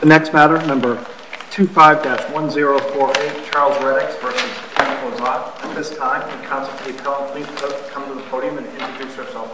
The next matter, number 25-1048, Charles Reddicks v. Lizotte. At this time, the counsel to be appealed, please come to the podium and introduce yourself.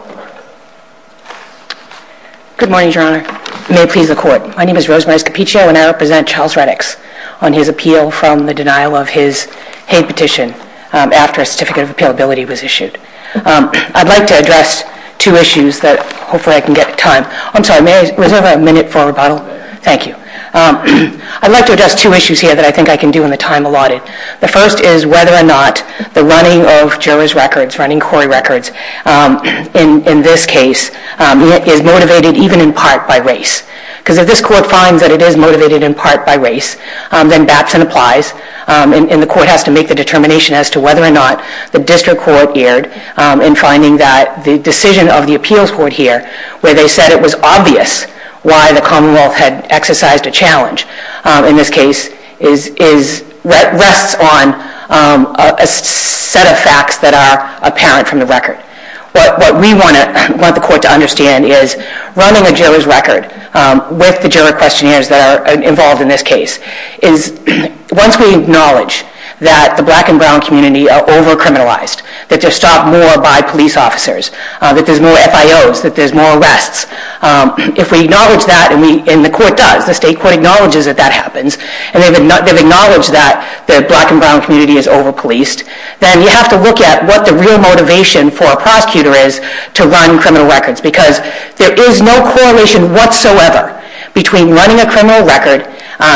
Good morning, Your Honor. May it please the Court. My name is Rosemary Scappiccio and I represent Charles Reddicks on his appeal from the denial of his Hague petition after a certificate of appealability was issued. I'd like to address two issues that hopefully I can get time. I'm sorry, may I reserve a minute for rebuttal? Thank you. I'd like to address two issues here that I think I can do in the time allotted. The first is whether or not the running of jurors' records, running query records, in this case, is motivated even in part by race. Because if this Court finds that it is motivated in part by race, then Batson applies and the Court has to make the determination as to whether or not the District Court erred in finding that the decision of the Appeals Court here, where they said it was obvious why the Commonwealth had exercised a challenge, in this case, rests on a set of facts that are apparent from the record. What we want the Court to understand is running a juror's record with the juror questionnaires that are involved in this case is once we acknowledge that the black and brown community are over-criminalized, that they're stopped more by police officers, that there's more FIOs, that there's more arrests, if we acknowledge that, and the Court does, the State Court acknowledges that that happens, and they've acknowledged that the black and brown community is over-policed, then you have to look at what the real motivation for a prosecutor is to run criminal records. Because there is no correlation whatsoever between running a criminal record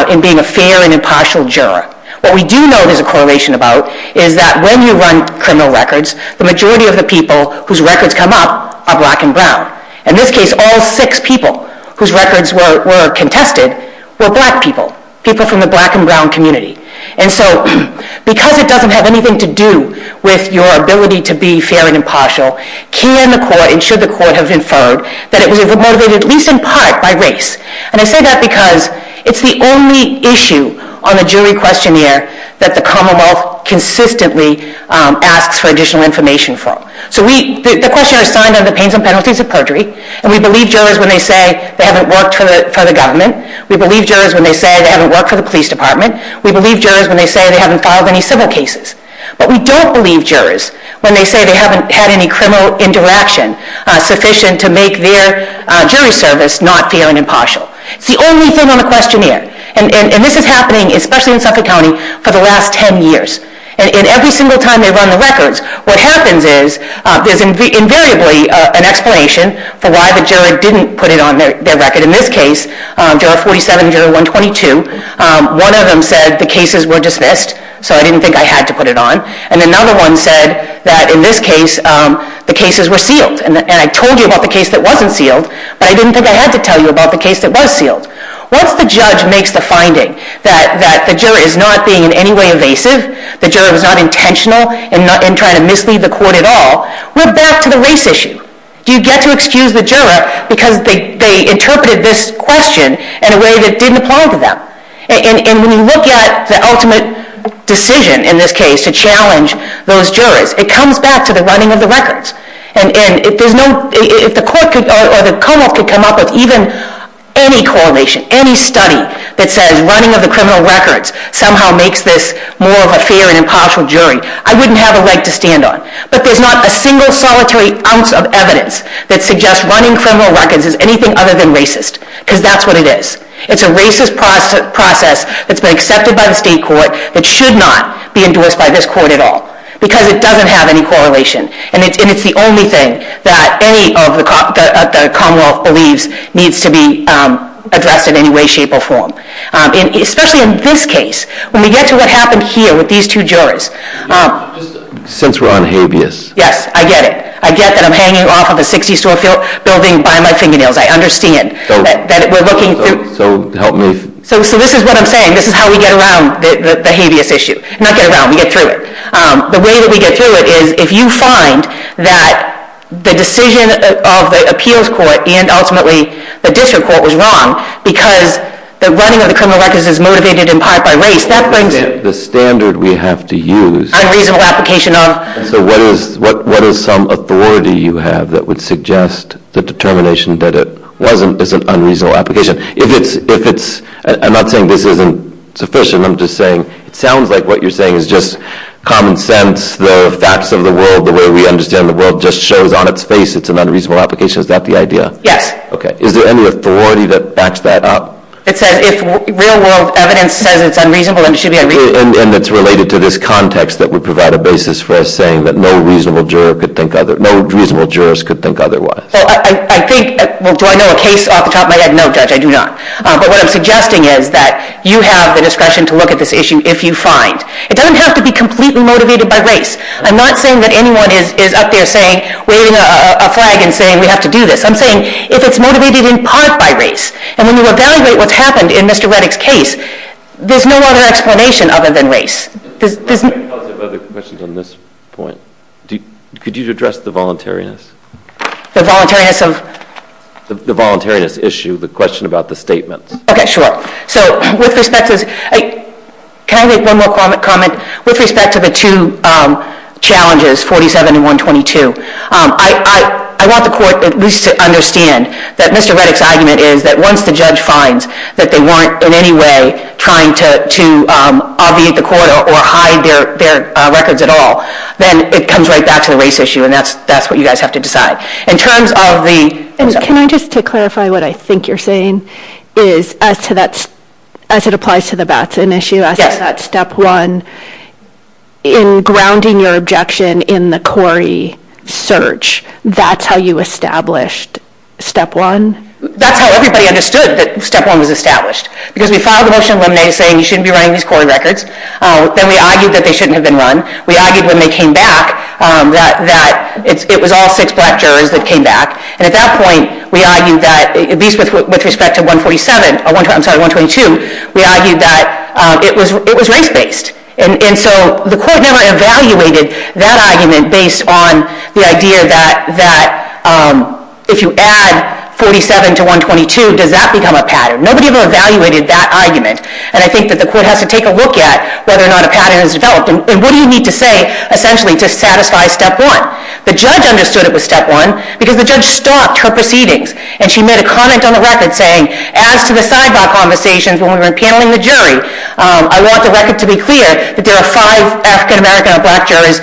and being a fair and impartial juror. What we do know there's a correlation about is that when you run criminal records, the majority of the people whose records come up are black and brown. In this case, all six people whose records were contested were black people, people from the black and brown community. And so because it doesn't have anything to do with your ability to be fair and impartial, can the Court and should the Court have inferred that it was motivated at least in part by race? And I say that because it's the only issue on the jury questionnaire that the Commonwealth consistently asks for additional information from. So the questionnaires are signed under the pains and penalties of perjury, and we believe jurors when they say they haven't worked for the government. We believe jurors when they say they haven't worked for the police department. We believe jurors when they say they haven't filed any civil cases. But we don't believe jurors when they say they haven't had any criminal interaction sufficient to make their jury service not fair and impartial. It's the only thing on the questionnaire. And this is happening, especially in Suffolk County, for the last 10 years. And every single time they run the records, what happens is there's invariably an explanation for why the juror didn't put it on their record. In this case, Juror 47 and Juror 122, one of them said the cases were dismissed, so I didn't think I had to put it on. And another one said that in this case, the cases were sealed. And I told you about the case that wasn't sealed, but I didn't think I had to tell you about the case that was sealed. Once the judge makes the finding that the juror is not being in any way evasive, the juror was not intentional in trying to mislead the court at all, we're back to the race issue. Do you get to excuse the juror because they interpreted this question in a way that didn't apply to them? And when you look at the ultimate decision in this case to challenge those jurors, it comes back to the running of the records. And if the court or the come-up could come up with even any correlation, any study that says running of the criminal records somehow makes this more of a fair and impartial jury, I wouldn't have a leg to stand on. But there's not a single solitary ounce of evidence that suggests running criminal records is anything other than racist, because that's what it is. It's a racist process that's been accepted by the state court that should not be endorsed by this court at all, because it doesn't have any correlation. And it's the only thing that any of the Commonwealth believes needs to be addressed in any way, shape, or form. Especially in this case. When we get to what happened here with these two jurors... Since we're on habeas... Yes, I get it. I get that I'm hanging off of a 60-story building by my fingernails. I understand that we're looking through... So help me... So this is what I'm saying. This is how we get around the habeas issue. Not get around, we get through it. The way that we get through it is, if you find that the decision of the appeals court and ultimately the district court was wrong because the running of the criminal records is motivated in part by race, that brings it... The standard we have to use... Unreasonable application of... So what is some authority you have that would suggest the determination that it was an unreasonable application? If it's... I'm not saying this isn't sufficient. I'm just saying it sounds like what you're saying is just common sense, the facts of the world, the way we understand the world just shows on its face it's an unreasonable application. Is that the idea? Yes. Is there any authority that backs that up? It says if real-world evidence says it's unreasonable, then it should be unreasonable. And it's related to this context that would provide a basis for us saying that no reasonable juror could think other... Well, I think... Well, do I know a case off the top of my head? No, Judge, I do not. But what I'm suggesting is that you have the discretion to look at this issue if you find. It doesn't have to be completely motivated by race. I'm not saying that anyone is up there saying, waving a flag and saying, we have to do this. I'm saying if it's motivated in part by race. And when you evaluate what's happened in Mr. Reddick's case, there's no other explanation other than race. There's no... I have other questions on this point. Could you address the voluntariness? The voluntariness of... The voluntariness issue, the question about the statements. Okay, sure. So with respect to... Can I make one more comment? With respect to the two challenges, 47 and 122, I want the court at least to understand that Mr. Reddick's argument is that once the judge finds that they weren't in any way trying to obviate the court or hide their records at all, then it comes right back to the race issue and that's what you guys have to decide. In terms of the... Can I just clarify what I think you're saying? As it applies to the Batson issue, as to that Step 1, in grounding your objection in the Corey search, that's how you established Step 1? That's how everybody understood that Step 1 was established. Because we filed a motion of limine saying you shouldn't be running these Corey records. Then we argued that they shouldn't have been run. We argued when they came back that it was all six black jurors that came back. And at that point, we argued that, at least with respect to 147... I'm sorry, 122, we argued that it was race-based. And so the court never evaluated that argument based on the idea that if you add 47 to 122, does that become a pattern? Nobody ever evaluated that argument. And I think that the court has to take a look at whether or not a pattern has developed. And what do you need to say, essentially, to satisfy Step 1? The judge understood it was Step 1 because the judge stopped her proceedings. And she made a comment on the record saying, as to the sidebar conversations when we were paneling the jury, I want the record to be clear that there are five African-American and black jurors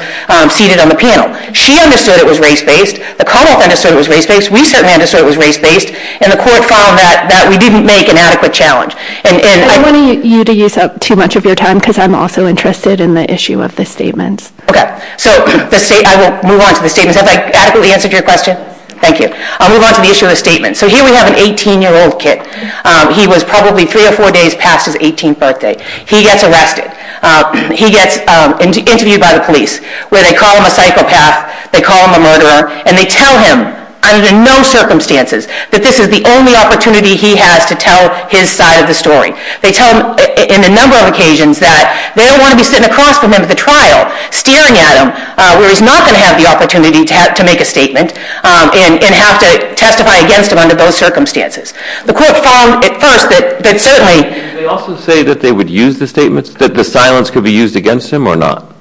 seated on the panel. She understood it was race-based. The court understood it was race-based. We certainly understood it was race-based. And the court found that we didn't make an adequate challenge. And I... I don't want you to use up too much of your time because I'm also interested in the issue of the statements. OK, so I will move on to the statements. Have I adequately answered your question? Thank you. I'll move on to the issue of the statements. So here we have an 18-year-old kid. He was probably three or four days past his 18th birthday. He gets arrested. He gets interviewed by the police, where they call him a psychopath, they call him a murderer, and they tell him, under no circumstances, that this is the only opportunity he has to tell his side of the story. They tell him in a number of occasions that they don't want to be sitting across from him at the trial, staring at him, where he's not going to have the opportunity to make a statement and have to testify against him under those circumstances. The court found at first that certainly... Did they also say that they would use the statements, that the silence could be used against him or not?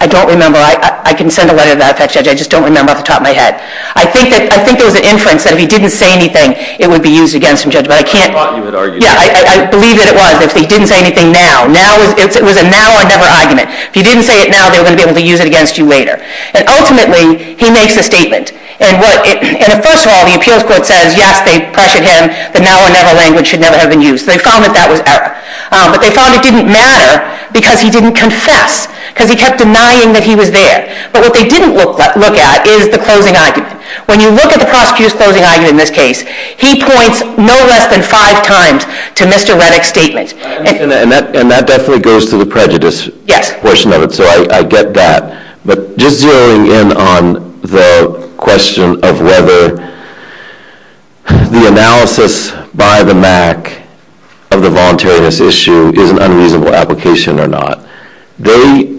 I don't remember. I can send a letter to that judge. I just don't remember off the top of my head. I think there was an inference that if he didn't say anything, it would be used against him, Judge, but I can't... I thought you had argued that. Yeah, I believe that it was, that if he didn't say anything now... It was a now or never argument. If he didn't say it now, they were going to be able to use it against you later. And ultimately, he makes a statement. And first of all, the appeals court says, yes, they pressured him, the now or never language should never have been used. They found that that was error. But they found it didn't matter because he didn't confess, because he kept denying that he was there. But what they didn't look at is the closing argument. When you look at the prosecutor's closing argument in this case, he points no less than five times to Mr. Reddick's statement. And that definitely goes to the prejudice portion of it, so I get that. But just zeroing in on the question of whether the analysis by the MAC of the voluntariness issue is an unreasonable application or not, they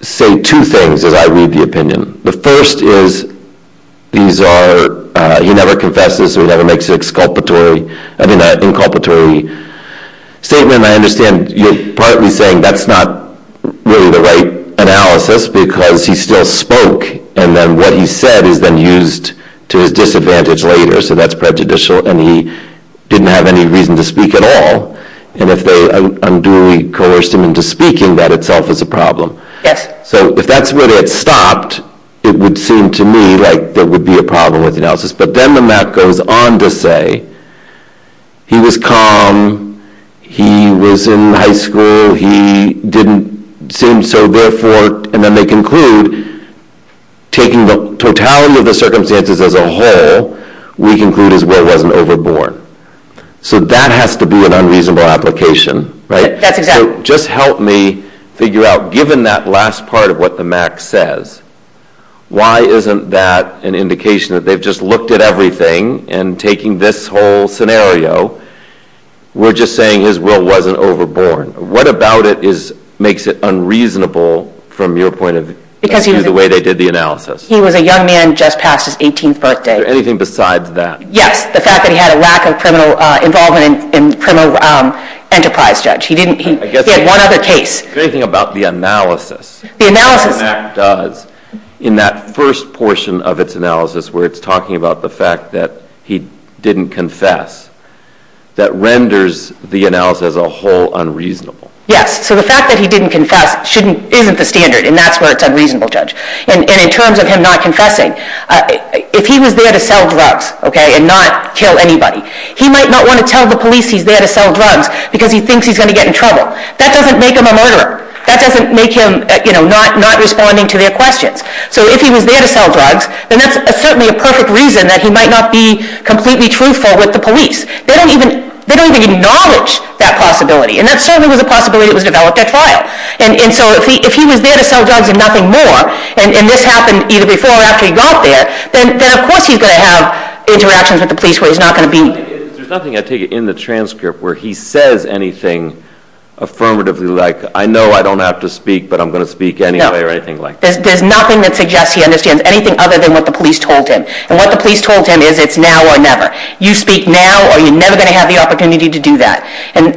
say two things as I read the opinion. The first is these are... He never confesses, so he never makes an inculpatory statement. I understand you partly saying that's not really the right analysis because he still spoke, and then what he said is then used to his disadvantage later, so that's prejudicial, and he didn't have any reason to speak at all. And if they unduly coerced him into speaking, that itself is a problem. Yes. So if that's where they had stopped, it would seem to me like there would be a problem with the analysis. But then the MAC goes on to say he was calm, he was in high school, he didn't seem so, and then they conclude, taking the totality of the circumstances as a whole, we conclude his will wasn't overborn. So that has to be an unreasonable application, right? That's exactly... So just help me figure out, given that last part of what the MAC says, why isn't that an indication that they've just looked at everything and taking this whole scenario, we're just saying his will wasn't overborn? What about it makes it unreasonable, from your point of view, the way they did the analysis? He was a young man just past his 18th birthday. Is there anything besides that? Yes, the fact that he had a lack of criminal involvement in the criminal enterprise, Judge. He had one other case. The great thing about the analysis... The analysis... ...that the MAC does in that first portion of its analysis, where it's talking about the fact that he didn't confess, that renders the analysis as a whole unreasonable. Yes, so the fact that he didn't confess isn't the standard, and that's where it's unreasonable, Judge. And in terms of him not confessing, if he was there to sell drugs and not kill anybody, he might not want to tell the police he's there to sell drugs because he thinks he's going to get in trouble. That doesn't make him a murderer. That doesn't make him not responding to their questions. So if he was there to sell drugs, then that's certainly a perfect reason that he might not be completely truthful with the police. They don't even acknowledge that possibility, and that certainly was a possibility that was developed at trial. And so if he was there to sell drugs and nothing more, and this happened either before or after he got there, then of course he's going to have interactions with the police where he's not going to be... There's nothing, I take it, in the transcript where he says anything affirmatively like, I know I don't have to speak, but I'm going to speak anyway, or anything like that. No, there's nothing that suggests he understands anything other than what the police told him. And what the police told him is it's now or never. You speak now or you're never going to have the opportunity to do that. And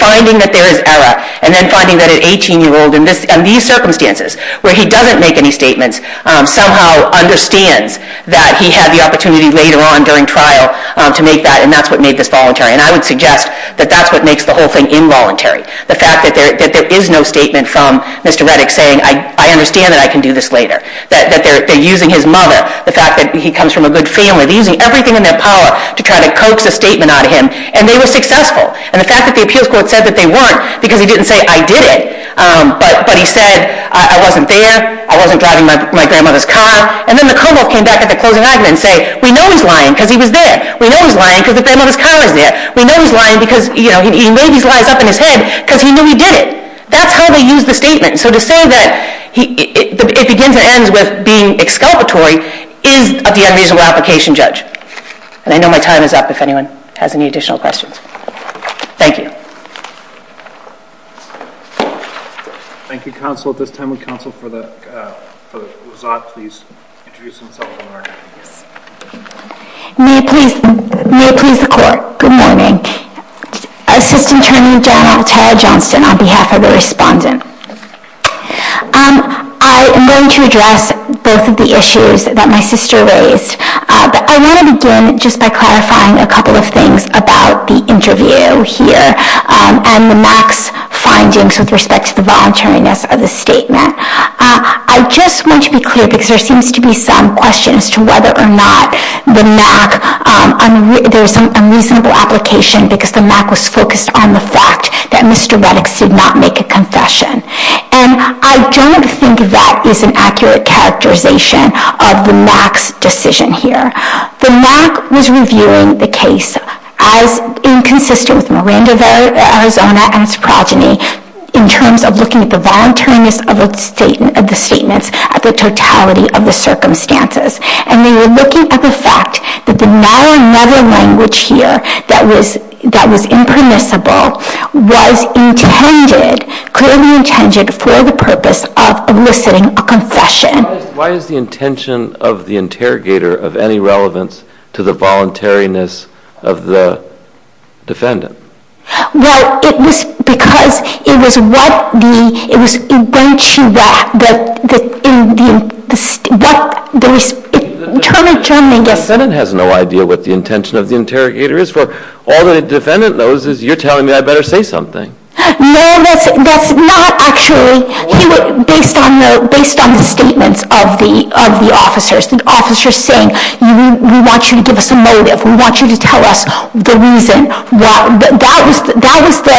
finding that there is error, and then finding that an 18-year-old in these circumstances where he doesn't make any statements somehow understands that he had the opportunity later on during trial to make that, and that's what made this voluntary. And I would suggest that that's what makes the whole thing involuntary. The fact that there is no statement from Mr. Reddick saying, I understand that I can do this later. That they're using his mother. The fact that he comes from a good family. They're using everything in their power to try to coax a statement out of him. And they were successful. And the fact that the appeals court said that they weren't because he didn't say, I did it. But he said, I wasn't there, I wasn't driving my grandmother's car. And then the Commonwealth came back at the closing argument and said, we know he's lying because he was there. We know he's lying because the grandmother's car was there. We know he's lying because he maybe lies up in his head because he knew he did it. That's how they use the statement. So to say that it begins and ends with being exculpatory is the unreasonable application judge. And I know my time is up if anyone has any additional questions. Thank you. Thank you, counsel. At this time would counsel for the result please introduce themselves. May it please the court. Good morning. Assistant Attorney General Tara Johnston on behalf of the respondent. I am going to address both of the issues that my sister raised. I want to begin just by clarifying a couple of things about the interview here and the MAC's findings with respect to the voluntariness of the statement. I just want to be clear because there seems to be some questions as to whether or not the MAC, there's some unreasonable application because the MAC was focused on the fact that Mr. Reddick did not make a confession. And I don't think that is an accurate characterization of the MAC's decision here. The MAC was reviewing the case as inconsistent with Miranda of Arizona and its progeny in terms of looking at the voluntariness of the statements at the totality of the circumstances. And they were looking at the fact that the now or never language here that was impermissible was intended, clearly intended, for the purpose of eliciting a confession. Why is the intention of the interrogator of any relevance to the voluntariness of the defendant? Well, it was because it was what the, it was eventually that, that the, in the, what the, in turn, in turn, I guess. The defendant has no idea what the intention of the interrogator is. All the defendant knows is you're telling me I better say something. No, that's, that's not actually. Based on the, based on the statements of the, of the officers. The officers saying we want you to give us a motive. We want you to tell us the reason why. That was, that was the,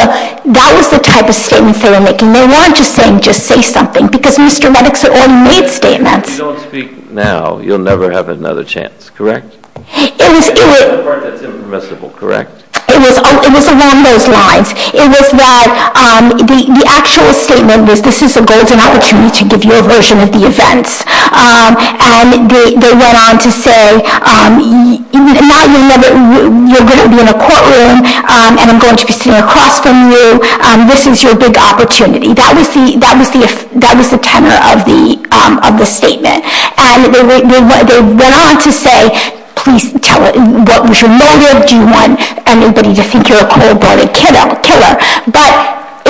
that was the type of statement they were making. They weren't just saying just say something. Because Mr. Medix had already made statements. If you don't speak now, you'll never have another chance. Correct? It was, it was. The part that's impermissible. Correct? It was, it was along those lines. It was that the actual statement was this is a golden opportunity to give you a version of the events. And they, they went on to say now you'll never, you're going to be in a courtroom and I'm going to be sitting across from you. This is your big opportunity. That was the, that was the, that was the tenor of the, of the statement. And they went, they went on to say please tell us what was your motive. Do you want anybody to think you're a cold-blooded kiddo, killer? But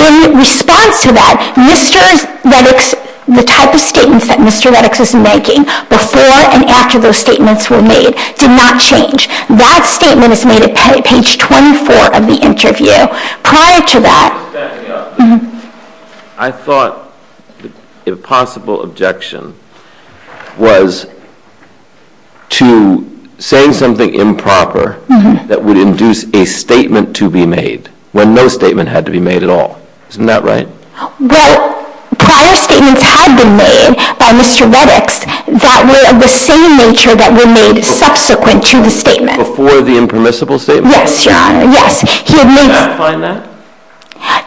in response to that, Mr. Medix, the type of statements that Mr. Medix is making before and after those statements were made did not change. That statement is made at page 24 of the interview. Prior to that. I thought a possible objection was to saying something improper that would induce a statement to be made when no statement had to be made at all. Isn't that right? Well, prior statements had been made by Mr. Medix that were of the same nature that were made subsequent to the statement. Before the impermissible statement? Yes, Your Honor, yes. Did the MAC find that?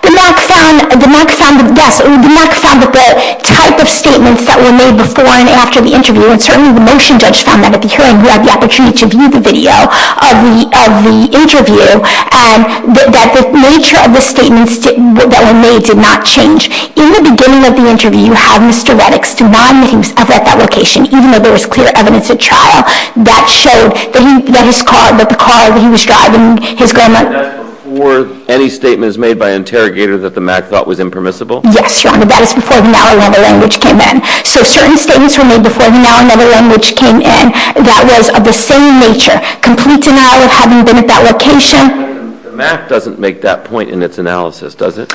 The MAC found, the MAC found, yes, the MAC found that the type of statements that were made before and after the interview, and certainly the motion judge found that at the hearing, you had the opportunity to view the video of the, of the interview, that the nature of the statements that were made did not change. In the beginning of the interview, you have Mr. Medix denying that he was ever at that location, even though there was clear evidence at trial. That showed that his car, that the car that he was driving, his grandma That's before any statements made by interrogators that the MAC thought was impermissible? Yes, Your Honor, that is before the Now or Never language came in. So certain statements were made before the Now or Never language came in that was of the same nature. Complete denial of having been at that location. The MAC doesn't make that point in its analysis, does it?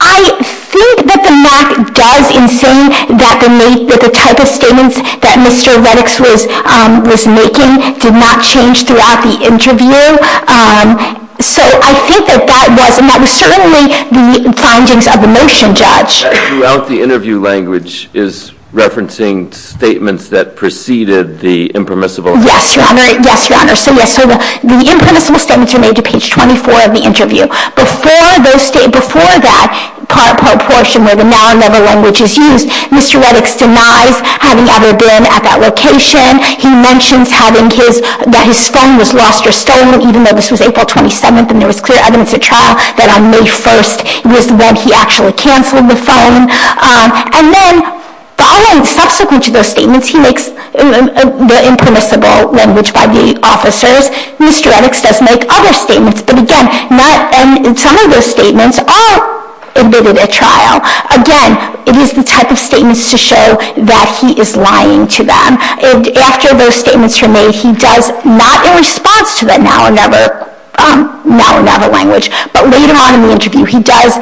I think that the MAC does in saying that the type of statements that Mr. Medix was making did not change throughout the interview. So I think that that was, and that was certainly the findings of the motion judge. Throughout the interview language is referencing statements that preceded the impermissible. Yes, Your Honor. Yes, Your Honor. So the impermissible statements are made to page 24 of the interview. Before that portion where the Now or Never language is used, Mr. Medix denies having ever been at that location. He mentions that his phone was lost or stolen, even though this was April 27th and there was clear evidence at trial that on May 1st was when he actually canceled the phone. And then following subsequent to those statements, he makes the impermissible language by the officers. Mr. Medix does make other statements. But again, some of those statements are admitted at trial. Again, it is the type of statements to show that he is lying to them. And after those statements are made, he does not, in response to the Now or Never language, but later on in the interview, he does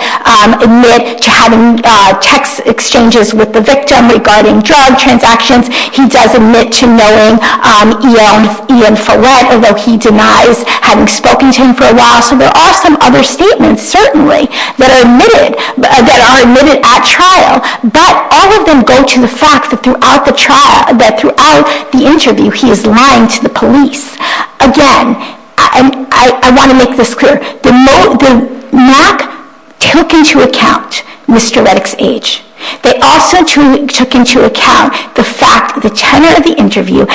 admit to having text exchanges with the victim regarding drug transactions. He does admit to knowing Ian Follett, although he denies having spoken to him for a while. So there are some other statements, certainly, that are admitted at trial. But all of them go to the fact that throughout the interview, he is lying to the police. Again, I want to make this clear. The NAC took into account Mr. Medix's age. They also took into account the fact, the tenor of the interview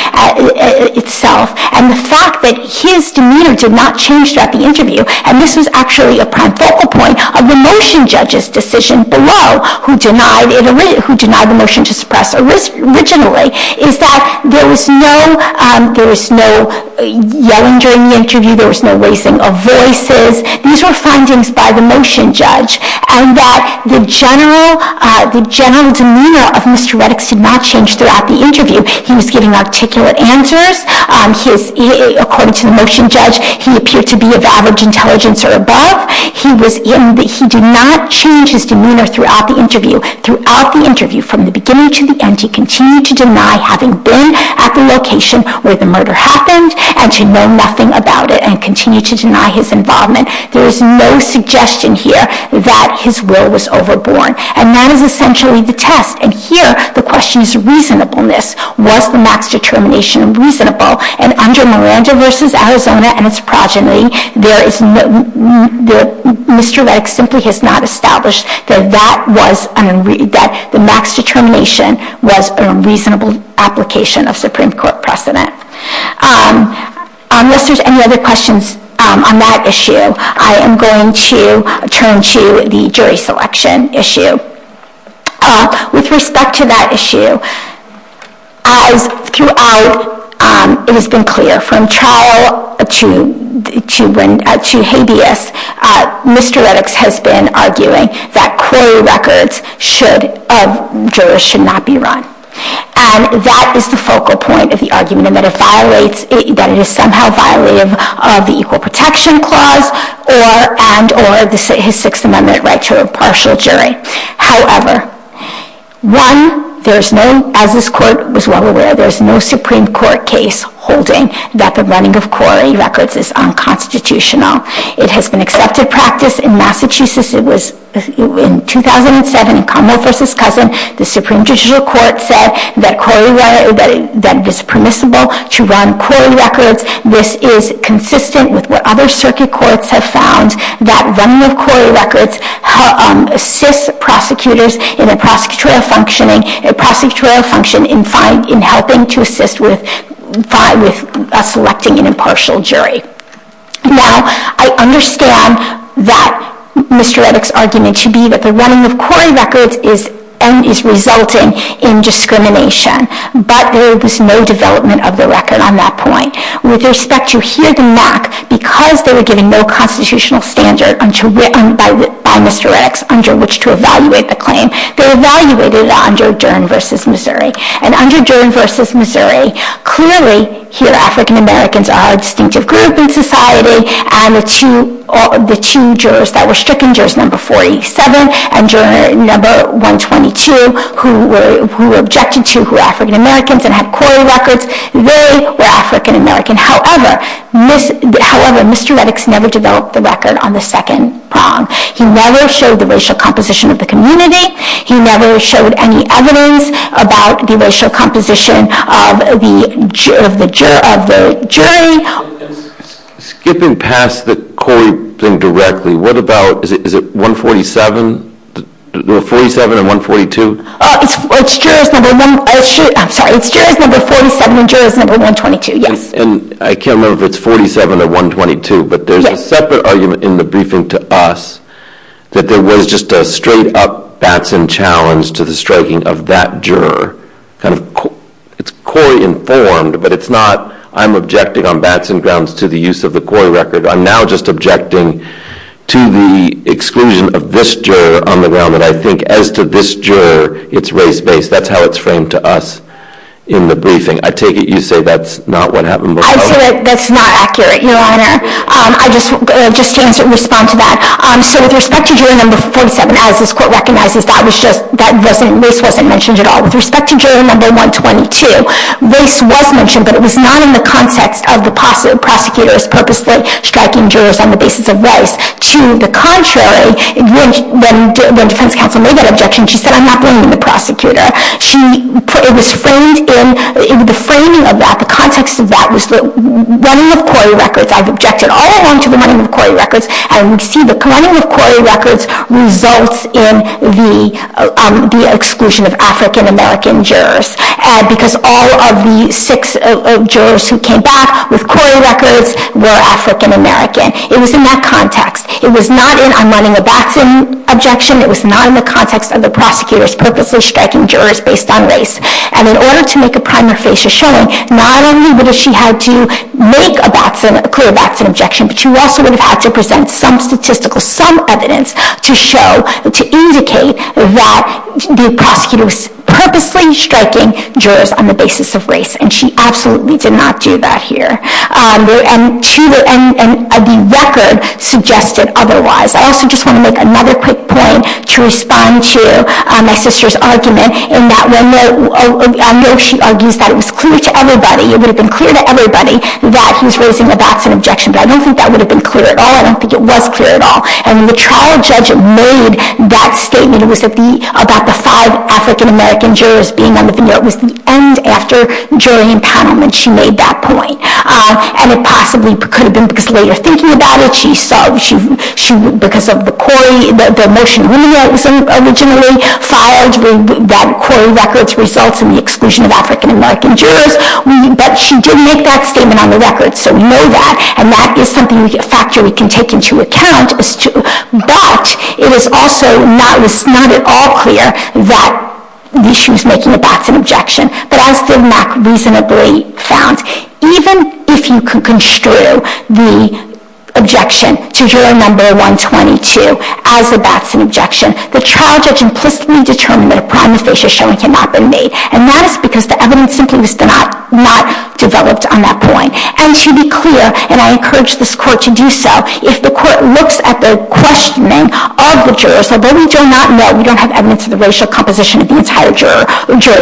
itself, and the fact that his demeanor did not change throughout the interview. And this was actually a pivotal point of the motion judge's decision below, who denied the motion to suppress originally, is that there was no yelling during the interview. There was no raising of voices. These were findings by the motion judge. And that the general demeanor of Mr. Medix did not change throughout the He was giving articulate answers. According to the motion judge, he appeared to be of average intelligence or above. He did not change his demeanor throughout the interview. Throughout the interview, from the beginning to the end, he continued to deny having been at the location where the murder happened, and to know nothing about it, and continued to deny his involvement. There is no suggestion here that his will was overborne. And that is essentially the test. And here, the question is reasonableness. Was the NAC's determination reasonable? And under Miranda v. Arizona and its progeny, Mr. Medix simply has not established that the NAC's determination was a reasonable application of Supreme Court precedent. Unless there's any other questions on that issue, I am going to turn to the jury selection issue. With respect to that issue, as throughout, it has been clear from trial to habeas, Mr. Medix has been arguing that query records of jurors should not be run. And that is the focal point of the argument in that it violates, that it is somehow violative of the Equal Protection Clause and or his Sixth Amendment right to a partial jury. However, one, there is no, as this court was well aware, there is no Supreme Court case holding that the running of query records is unconstitutional. It has been accepted practice in Massachusetts. In 2007, in Commonwealth v. Cousin, the Supreme Judicial Court said that it is permissible to run query records. This is consistent with what other circuit courts have found, that running of query records assists prosecutors in a prosecutorial function in helping to assist with selecting an impartial jury. Now, I understand that Mr. Medix's argument should be that the running of query records is resulting in discrimination. But there was no development of the record on that point. With respect to here, the MAC, because they were given no constitutional standard by Mr. Medix under which to evaluate the claim, they evaluated it under Dern v. Missouri. And under Dern v. Missouri, clearly here African Americans are a distinctive group in society. And the two jurors that were stricken, jurors number 47 and juror number 122, who were objected to who were African Americans and had query records, they were African American. However, Mr. Medix never developed the record on the second prong. He never showed the racial composition of the community. He never showed any evidence about the racial composition of the jury Skipping past the query thing directly, what about, is it 147? No, 47 and 142? It's jurors number 47 and jurors number 122, yes. And I can't remember if it's 47 or 122, but there's a separate argument in the briefing to us that there was just a straight up Batson challenge to the striking of that juror. It's query informed, but it's not I'm objecting on Batson grounds to the use of the query record. I'm now just objecting to the exclusion of this juror on the ground that I think as to this juror, it's race-based. That's how it's framed to us in the briefing. I take it you say that's not what happened. I'd say that's not accurate, Your Honor. I just want to respond to that. So with respect to juror number 47, as this court recognizes, that was just, that race wasn't mentioned at all. With respect to juror number 122, race was mentioned, but it was not in the context of the prosecutor's purposely striking jurors on the basis of race. To the contrary, when defense counsel made that objection, she said, I'm not blaming the prosecutor. She put, it was framed in, the framing of that, the context of that, was the running of query records. I've objected all along to the running of query records. And we see the running of query records results in the exclusion of African-American jurors, because all of the six jurors who came back with query records were African-American. It was in that context. It was not in, I'm running a Batson objection. It was not in the context of the prosecutor's purposely striking jurors based on race. And in order to make a primer facia showing, not only would she have to make a clear Batson objection, but she also would have had to present some statistical, some evidence to show, to indicate that the prosecutor was purposely striking jurors on the basis of race. And she absolutely did not do that here. And the record suggested otherwise. I also just want to make another quick point to respond to my sister's argument in that when, I know she argues that it was clear to everybody, it would have been clear to everybody that he was raising a Batson objection, but I don't think that would have been clear at all. I don't think it was clear at all. And the trial judge made that statement. It was about the five African-American jurors being on the veneer. It was the end after jury empowerment. She made that point. And it possibly could have been because later thinking about it, she saw because of the motion women wrote was originally filed, that query records results in the exclusion of African-American jurors. But she did make that statement on the record, so we know that. And that is something, a factor we can take into account. But it was also not at all clear that she was making a Batson objection. But I still reasonably found even if you could construe the objection to juror number 122 as a Batson objection, the trial judge implicitly determined that a prima facie showing had not been made. And that is because the evidence simply was not developed on that point. And to be clear, and I encourage this court to do so, if the court looks at the questioning of the jurors, although we do not know, we don't have evidence of the racial composition of the entire jury,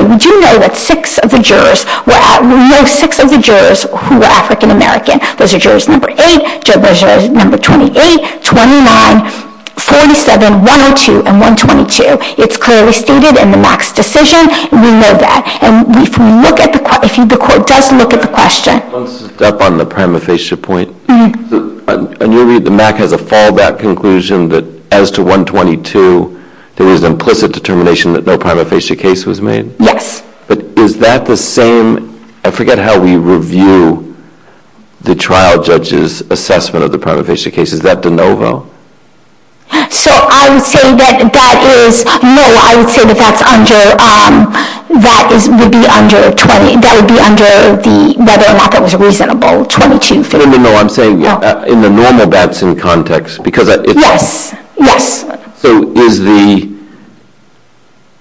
we do know that six of the jurors, we know six of the jurors who were African-American. Those are jurors number 8, jurors number 28, 29, 47, 102, and 122. It's clearly stated in the Max decision. We know that. And if the court does look at the question. One step on the prima facie point. In your read, the MAC has a fallback conclusion that as to 122, there is an implicit determination that no prima facie case was made? Yes. But is that the same? I forget how we review the trial judge's assessment of the prima facie case. Is that de novo? So I would say that that is, no, I would say that that's under, that would be under the, whether or not that was reasonable, 22. No, I'm saying in the normal Batson context. Yes, yes. So is the,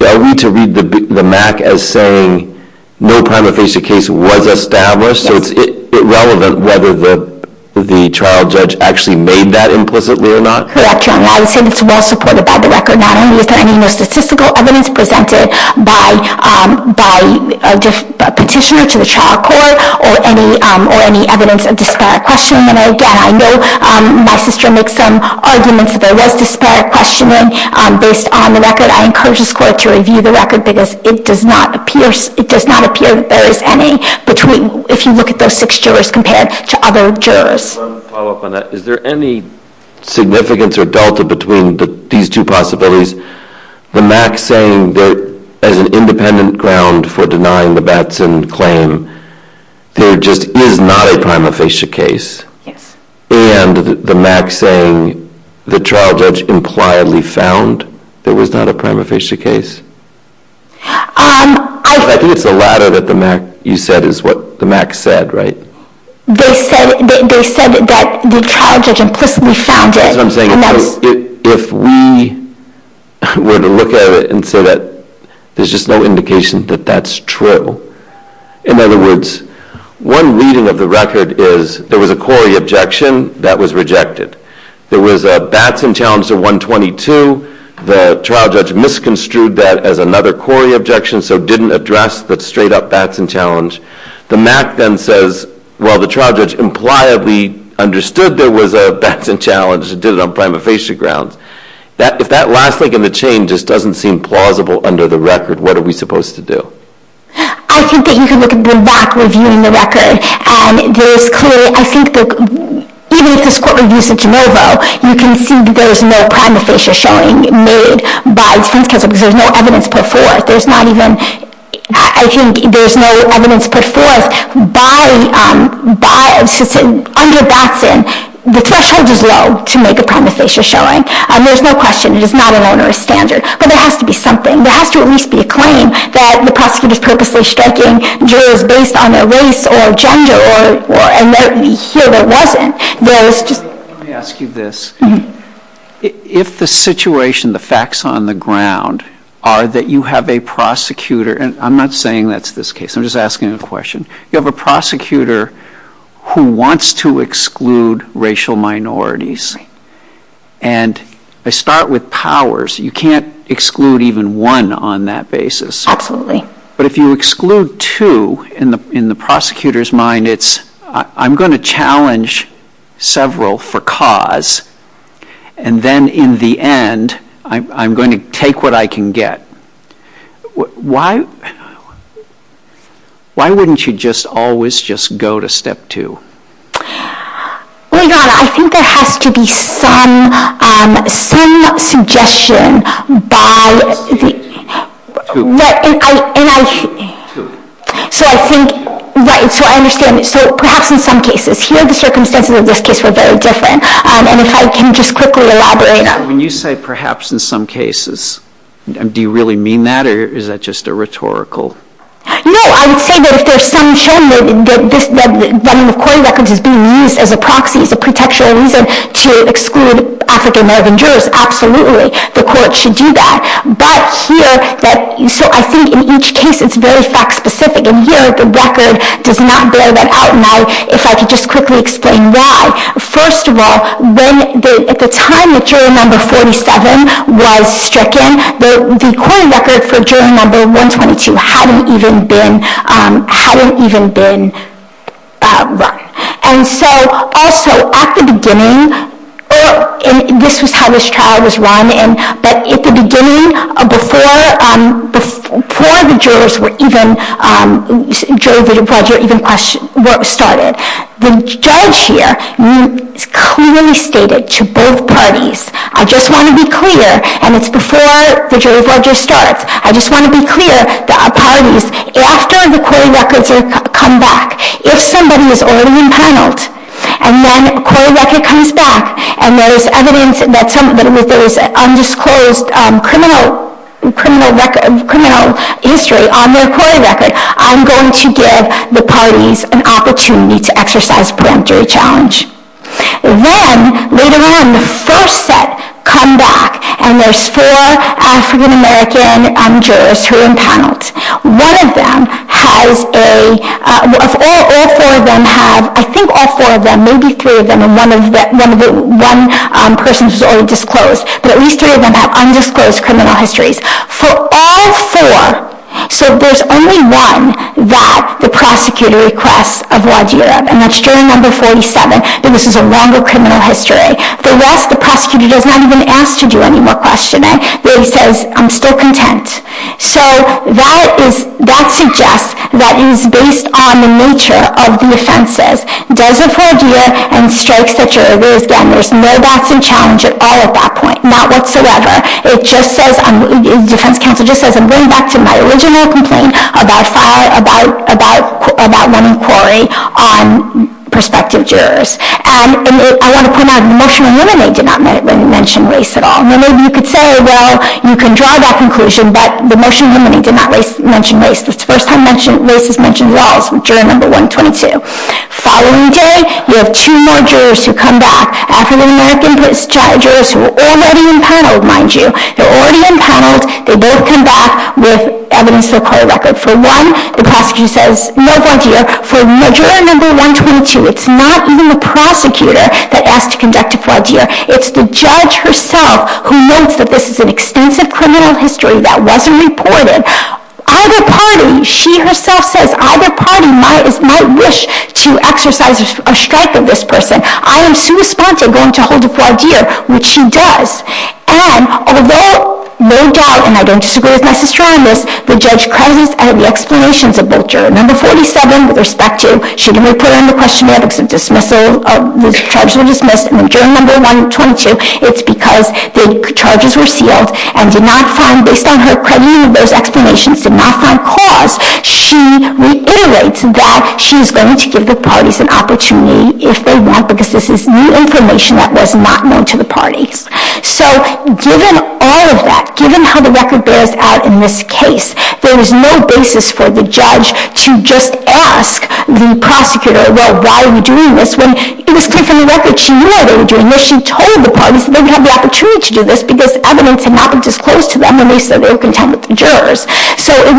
I read to read the MAC as saying, no prima facie case was established. So it's irrelevant whether the trial judge actually made that implicitly or not? Correct, Your Honor. I would say that it's well supported by the record. Not only is there any statistical evidence presented by a petitioner to the trial court, or any evidence of disparate questioning. And again, I know my sister makes some arguments that there was disparate questioning based on the record. I encourage this court to review the record because it does not appear, that there is any between, if you look at those six jurors compared to other jurors. One follow up on that. Is there any significance or delta between these two possibilities? The MAC saying that as an independent ground for denying the Batson claim, there just is not a prima facie case. Yes. And the MAC saying the trial judge impliedly found there was not a prima facie case? I think it's the latter that you said is what the MAC said, right? They said that the trial judge implicitly found it. That's what I'm saying. If we were to look at it and say that there's just no indication that that's true. In other words, one reading of the record is there was a Corey objection that was rejected. There was a Batson challenge to 122. The trial judge misconstrued that as another Corey objection, so didn't address the straight up Batson challenge. The MAC then says, well, the trial judge impliedly understood there was a Batson challenge and did it on prima facie grounds. If that last link in the chain just doesn't seem plausible under the record, what are we supposed to do? I think that you can look at the MAC reviewing the record. I think even if this court reviews the de novo, you can see that there's no prima facie showing made by the defense counsel because there's no evidence put forth. I think there's no evidence put forth. Under Batson, the threshold is low to make a prima facie showing. There's no question. It is not an onerous standard. But there has to be something. There has to at least be a claim that the prosecutor is purposely striking jurors based on their race or gender or a letter to me here that wasn't. Let me ask you this. If the situation, the facts on the ground, are that you have a prosecutor, and I'm not saying that's this case. I'm just asking a question. You have a prosecutor who wants to exclude racial minorities. And they start with powers. You can't exclude even one on that basis. Absolutely. But if you exclude two, in the prosecutor's mind, it's I'm going to challenge several for cause. And then in the end, I'm going to take what I can get. Why wouldn't you just always just go to step two? Well, your Honor, I think there has to be some suggestion by the. Two. Right. And I. Two. So I think. Right. So I understand. So perhaps in some cases. Here the circumstances of this case were very different. And if I can just quickly elaborate. When you say perhaps in some cases, do you really mean that? Or is that just a rhetorical. No. I would say that if there's some showing that running the court records is being used as a proxy, as a pretextual reason to exclude African-American jurors, absolutely. The court should do that. But here. So I think in each case it's very fact specific. And here the record does not bear that out. And if I could just quickly explain why. First of all, at the time that jury number 47 was stricken, the court record for jury number 122 hadn't even been run. And so also at the beginning, this was how this trial was run. But at the beginning, before the jurors were even, jury budget even started, the judge here clearly stated to both parties, I just want to be clear, and it's before the jury budget starts, I just want to be clear that parties, after the court records come back, if somebody is already impaneled, and then court record comes back, and there's evidence that there was undisclosed criminal history on their court record, I'm going to give the parties an opportunity to exercise a preemptory challenge. Then, later on, the first set come back, and there's four African-American jurors who are impaneled. One of them has a, all four of them have, I think all four of them, maybe three of them, and one person who's already disclosed, but at least three of them have undisclosed criminal histories. For all four, so there's only one that the prosecutor requests of Wadhirab, and that's jury number 47, and this is a longer criminal history. For the rest, the prosecutor does not even ask to do any more questioning. They say, I'm still content. So that suggests that it's based on the nature of the offenses. Does it for Wadhirab, and strikes the jurors again. There's no doubts in challenge at all at that point, not whatsoever. It just says, the defense counsel just says, I'm going back to my original complaint about one inquiry on prospective jurors, and I want to point out that the motion eliminating did not mention race at all. Now, maybe you could say, well, you can draw that conclusion, but the motion eliminating did not mention race. It's the first time race is mentioned at all, so jury number 122. The following day, you have two more jurors who come back, African-American jurors who are already impaneled, mind you. They're already impaneled. They both come back with evidence of a court record. For one, the prosecutor says, no, Wadhirab. For jury number 122, it's not even the prosecutor that asks to conduct a Wadhirab. It's the judge herself who notes that this is an extensive criminal history that wasn't reported. Either party, she herself says, either party might wish to exercise a strike of this person. I am sui sponte going to hold a Wadhirab, which she does. And although, no doubt, and I don't disagree with my sister on this, the judge credits the explanations of both jurors. Number 47, with respect to, shouldn't we put it in the questionnaire because the charges were dismissed, and then jury number 122, it's because the charges were sealed and did not find, based on her crediting of those explanations, did not find cause. She reiterates that she's going to give the parties an opportunity if they want, because this is new information that was not known to the parties. So given all of that, given how the record bears out in this case, there is no basis for the judge to just ask the prosecutor, well, why are we doing this, when it was clear from the record she knew why they were doing this. She told the parties that they would have the opportunity to do this because evidence had not been disclosed to them when they said they were content with the jurors. So it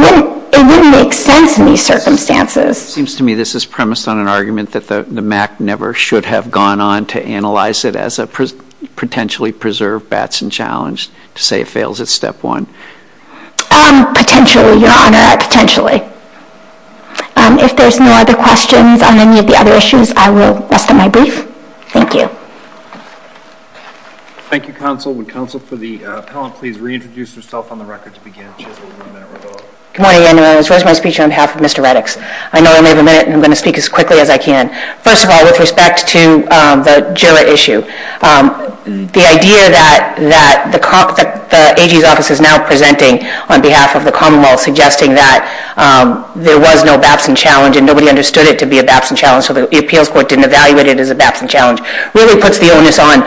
wouldn't make sense in these circumstances. It seems to me this is premised on an argument that the MAC never should have gone on to analyze it as a potentially preserved Batson challenge, to say it fails at step one. Potentially, Your Honor, potentially. If there's no other questions on any of the other issues, I will rest at my brief. Thank you. Thank you, counsel. Would counsel for the appellant please reintroduce herself on the record to begin. Good morning, Your Honor. This is Rosemary Speicher on behalf of Mr. Reddix. I know I only have a minute, and I'm going to speak as quickly as I can. First of all, with respect to the juror issue, the idea that the AG's office is now presenting on behalf of the Commonwealth suggesting that there was no Batson challenge and nobody understood it to be a Batson challenge, so the appeals court didn't evaluate it as a Batson challenge, really puts the onus on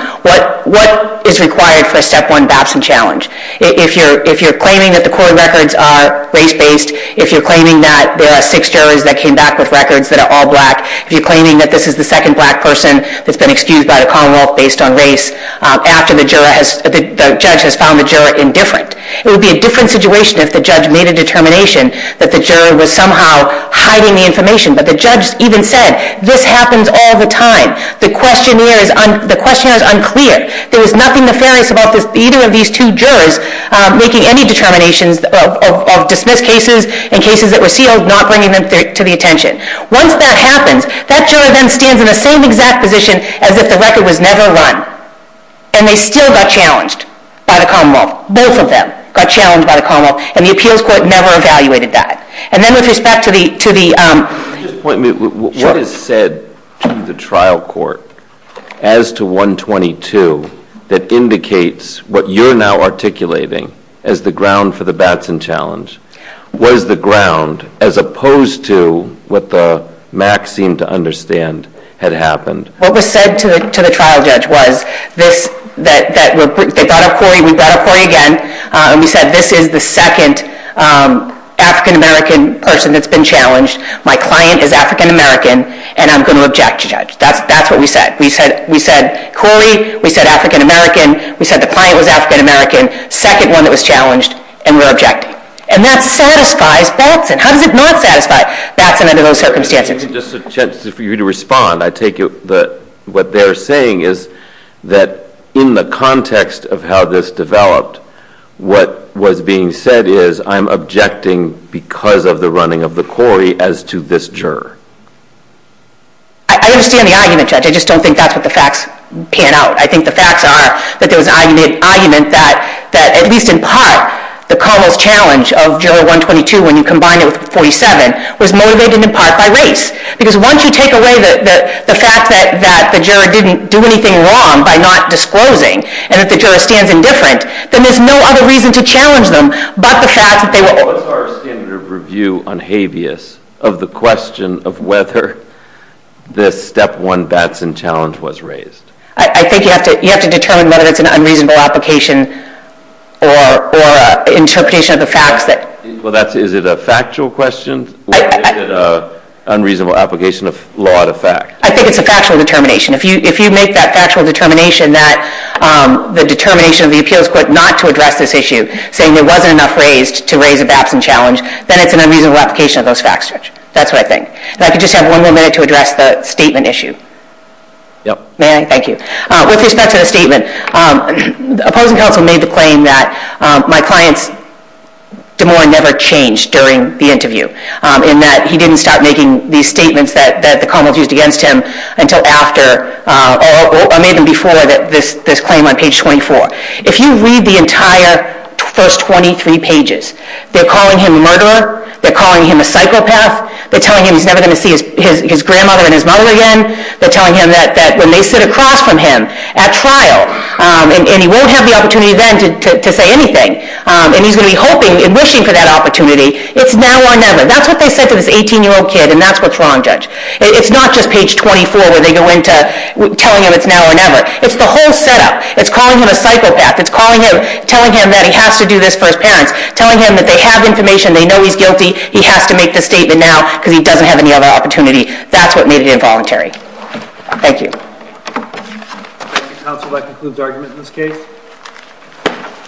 what is required for a step one Batson challenge. If you're claiming that the court records are race-based, if you're claiming that there are six jurors that came back with records that are all black, if you're claiming that this is the second black person that's been excused by the Commonwealth based on race, after the judge has found the juror indifferent, it would be a different situation if the judge made a determination that the juror was somehow hiding the information. But the judge even said, this happens all the time. The questionnaire is unclear. There was nothing nefarious about either of these two jurors making any determinations of dismissed cases and cases that were sealed, not bringing them to the attention. Once that happens, that juror then stands in the same exact position as if the record was never run. And they still got challenged by the Commonwealth. Both of them got challenged by the Commonwealth, and the appeals court never evaluated that. And then with respect to the... Can you just point me, what is said to the trial court, as to 122, that indicates what you're now articulating as the ground for the Batson challenge? What is the ground, as opposed to what the MAC seemed to understand had happened? What was said to the trial judge was, they brought up Corey, we brought up Corey again, and we said, this is the second African-American person that's been challenged. My client is African-American, and I'm going to object to the judge. That's what we said. We said Corey, we said African-American, we said the client was African-American, second one that was challenged, and we're objecting. And that satisfies Batson. How does it not satisfy Batson under those circumstances? Just a chance for you to respond. I take it that what they're saying is that in the context of how this developed, what was being said is, I'm objecting because of the running of the Corey as to this juror. I understand the argument, Judge. I just don't think that's what the facts pan out. I think the facts are that there was an argument that, at least in part, the Carmel's challenge of Juror 122 when you combine it with 47 was motivated in part by race. Because once you take away the fact that the juror didn't do anything wrong by not disclosing, and that the juror stands indifferent, then there's no other reason to challenge them but the fact that they were What is our standard of review on habeas of the question of whether this Step 1 Batson challenge was raised? I think you have to determine whether it's an unreasonable application or an interpretation of the facts. Is it a factual question or is it an unreasonable application of law to fact? I think it's a factual determination. If you make that factual determination that the determination of the appeals court not to address this issue, saying there wasn't enough raised to raise a Batson challenge, then it's an unreasonable application of those facts, Judge. That's what I think. And I could just have one more minute to address the statement issue. May I? Thank you. With respect to the statement, opposing counsel made the claim that my client's demur never changed during the interview, in that he didn't start making these statements that the Carmel's used against him until after, or maybe before, this claim on page 24. If you read the entire first 23 pages, they're calling him a murderer. They're calling him a psychopath. They're telling him he's never going to see his grandmother and his mother again. They're telling him that when they sit across from him at trial, and he won't have the opportunity then to say anything, and he's going to be hoping and wishing for that opportunity, it's now or never. That's what they said to this 18-year-old kid, and that's what's wrong, Judge. It's not just page 24 where they go into telling him it's now or never. It's the whole setup. It's calling him a psychopath. It's telling him that he has to do this for his parents, telling him that they have information, they know he's guilty, he has to make this statement now because he doesn't have any other opportunity. That's what made it involuntary. Thank you. Counsel, that concludes argument in this case.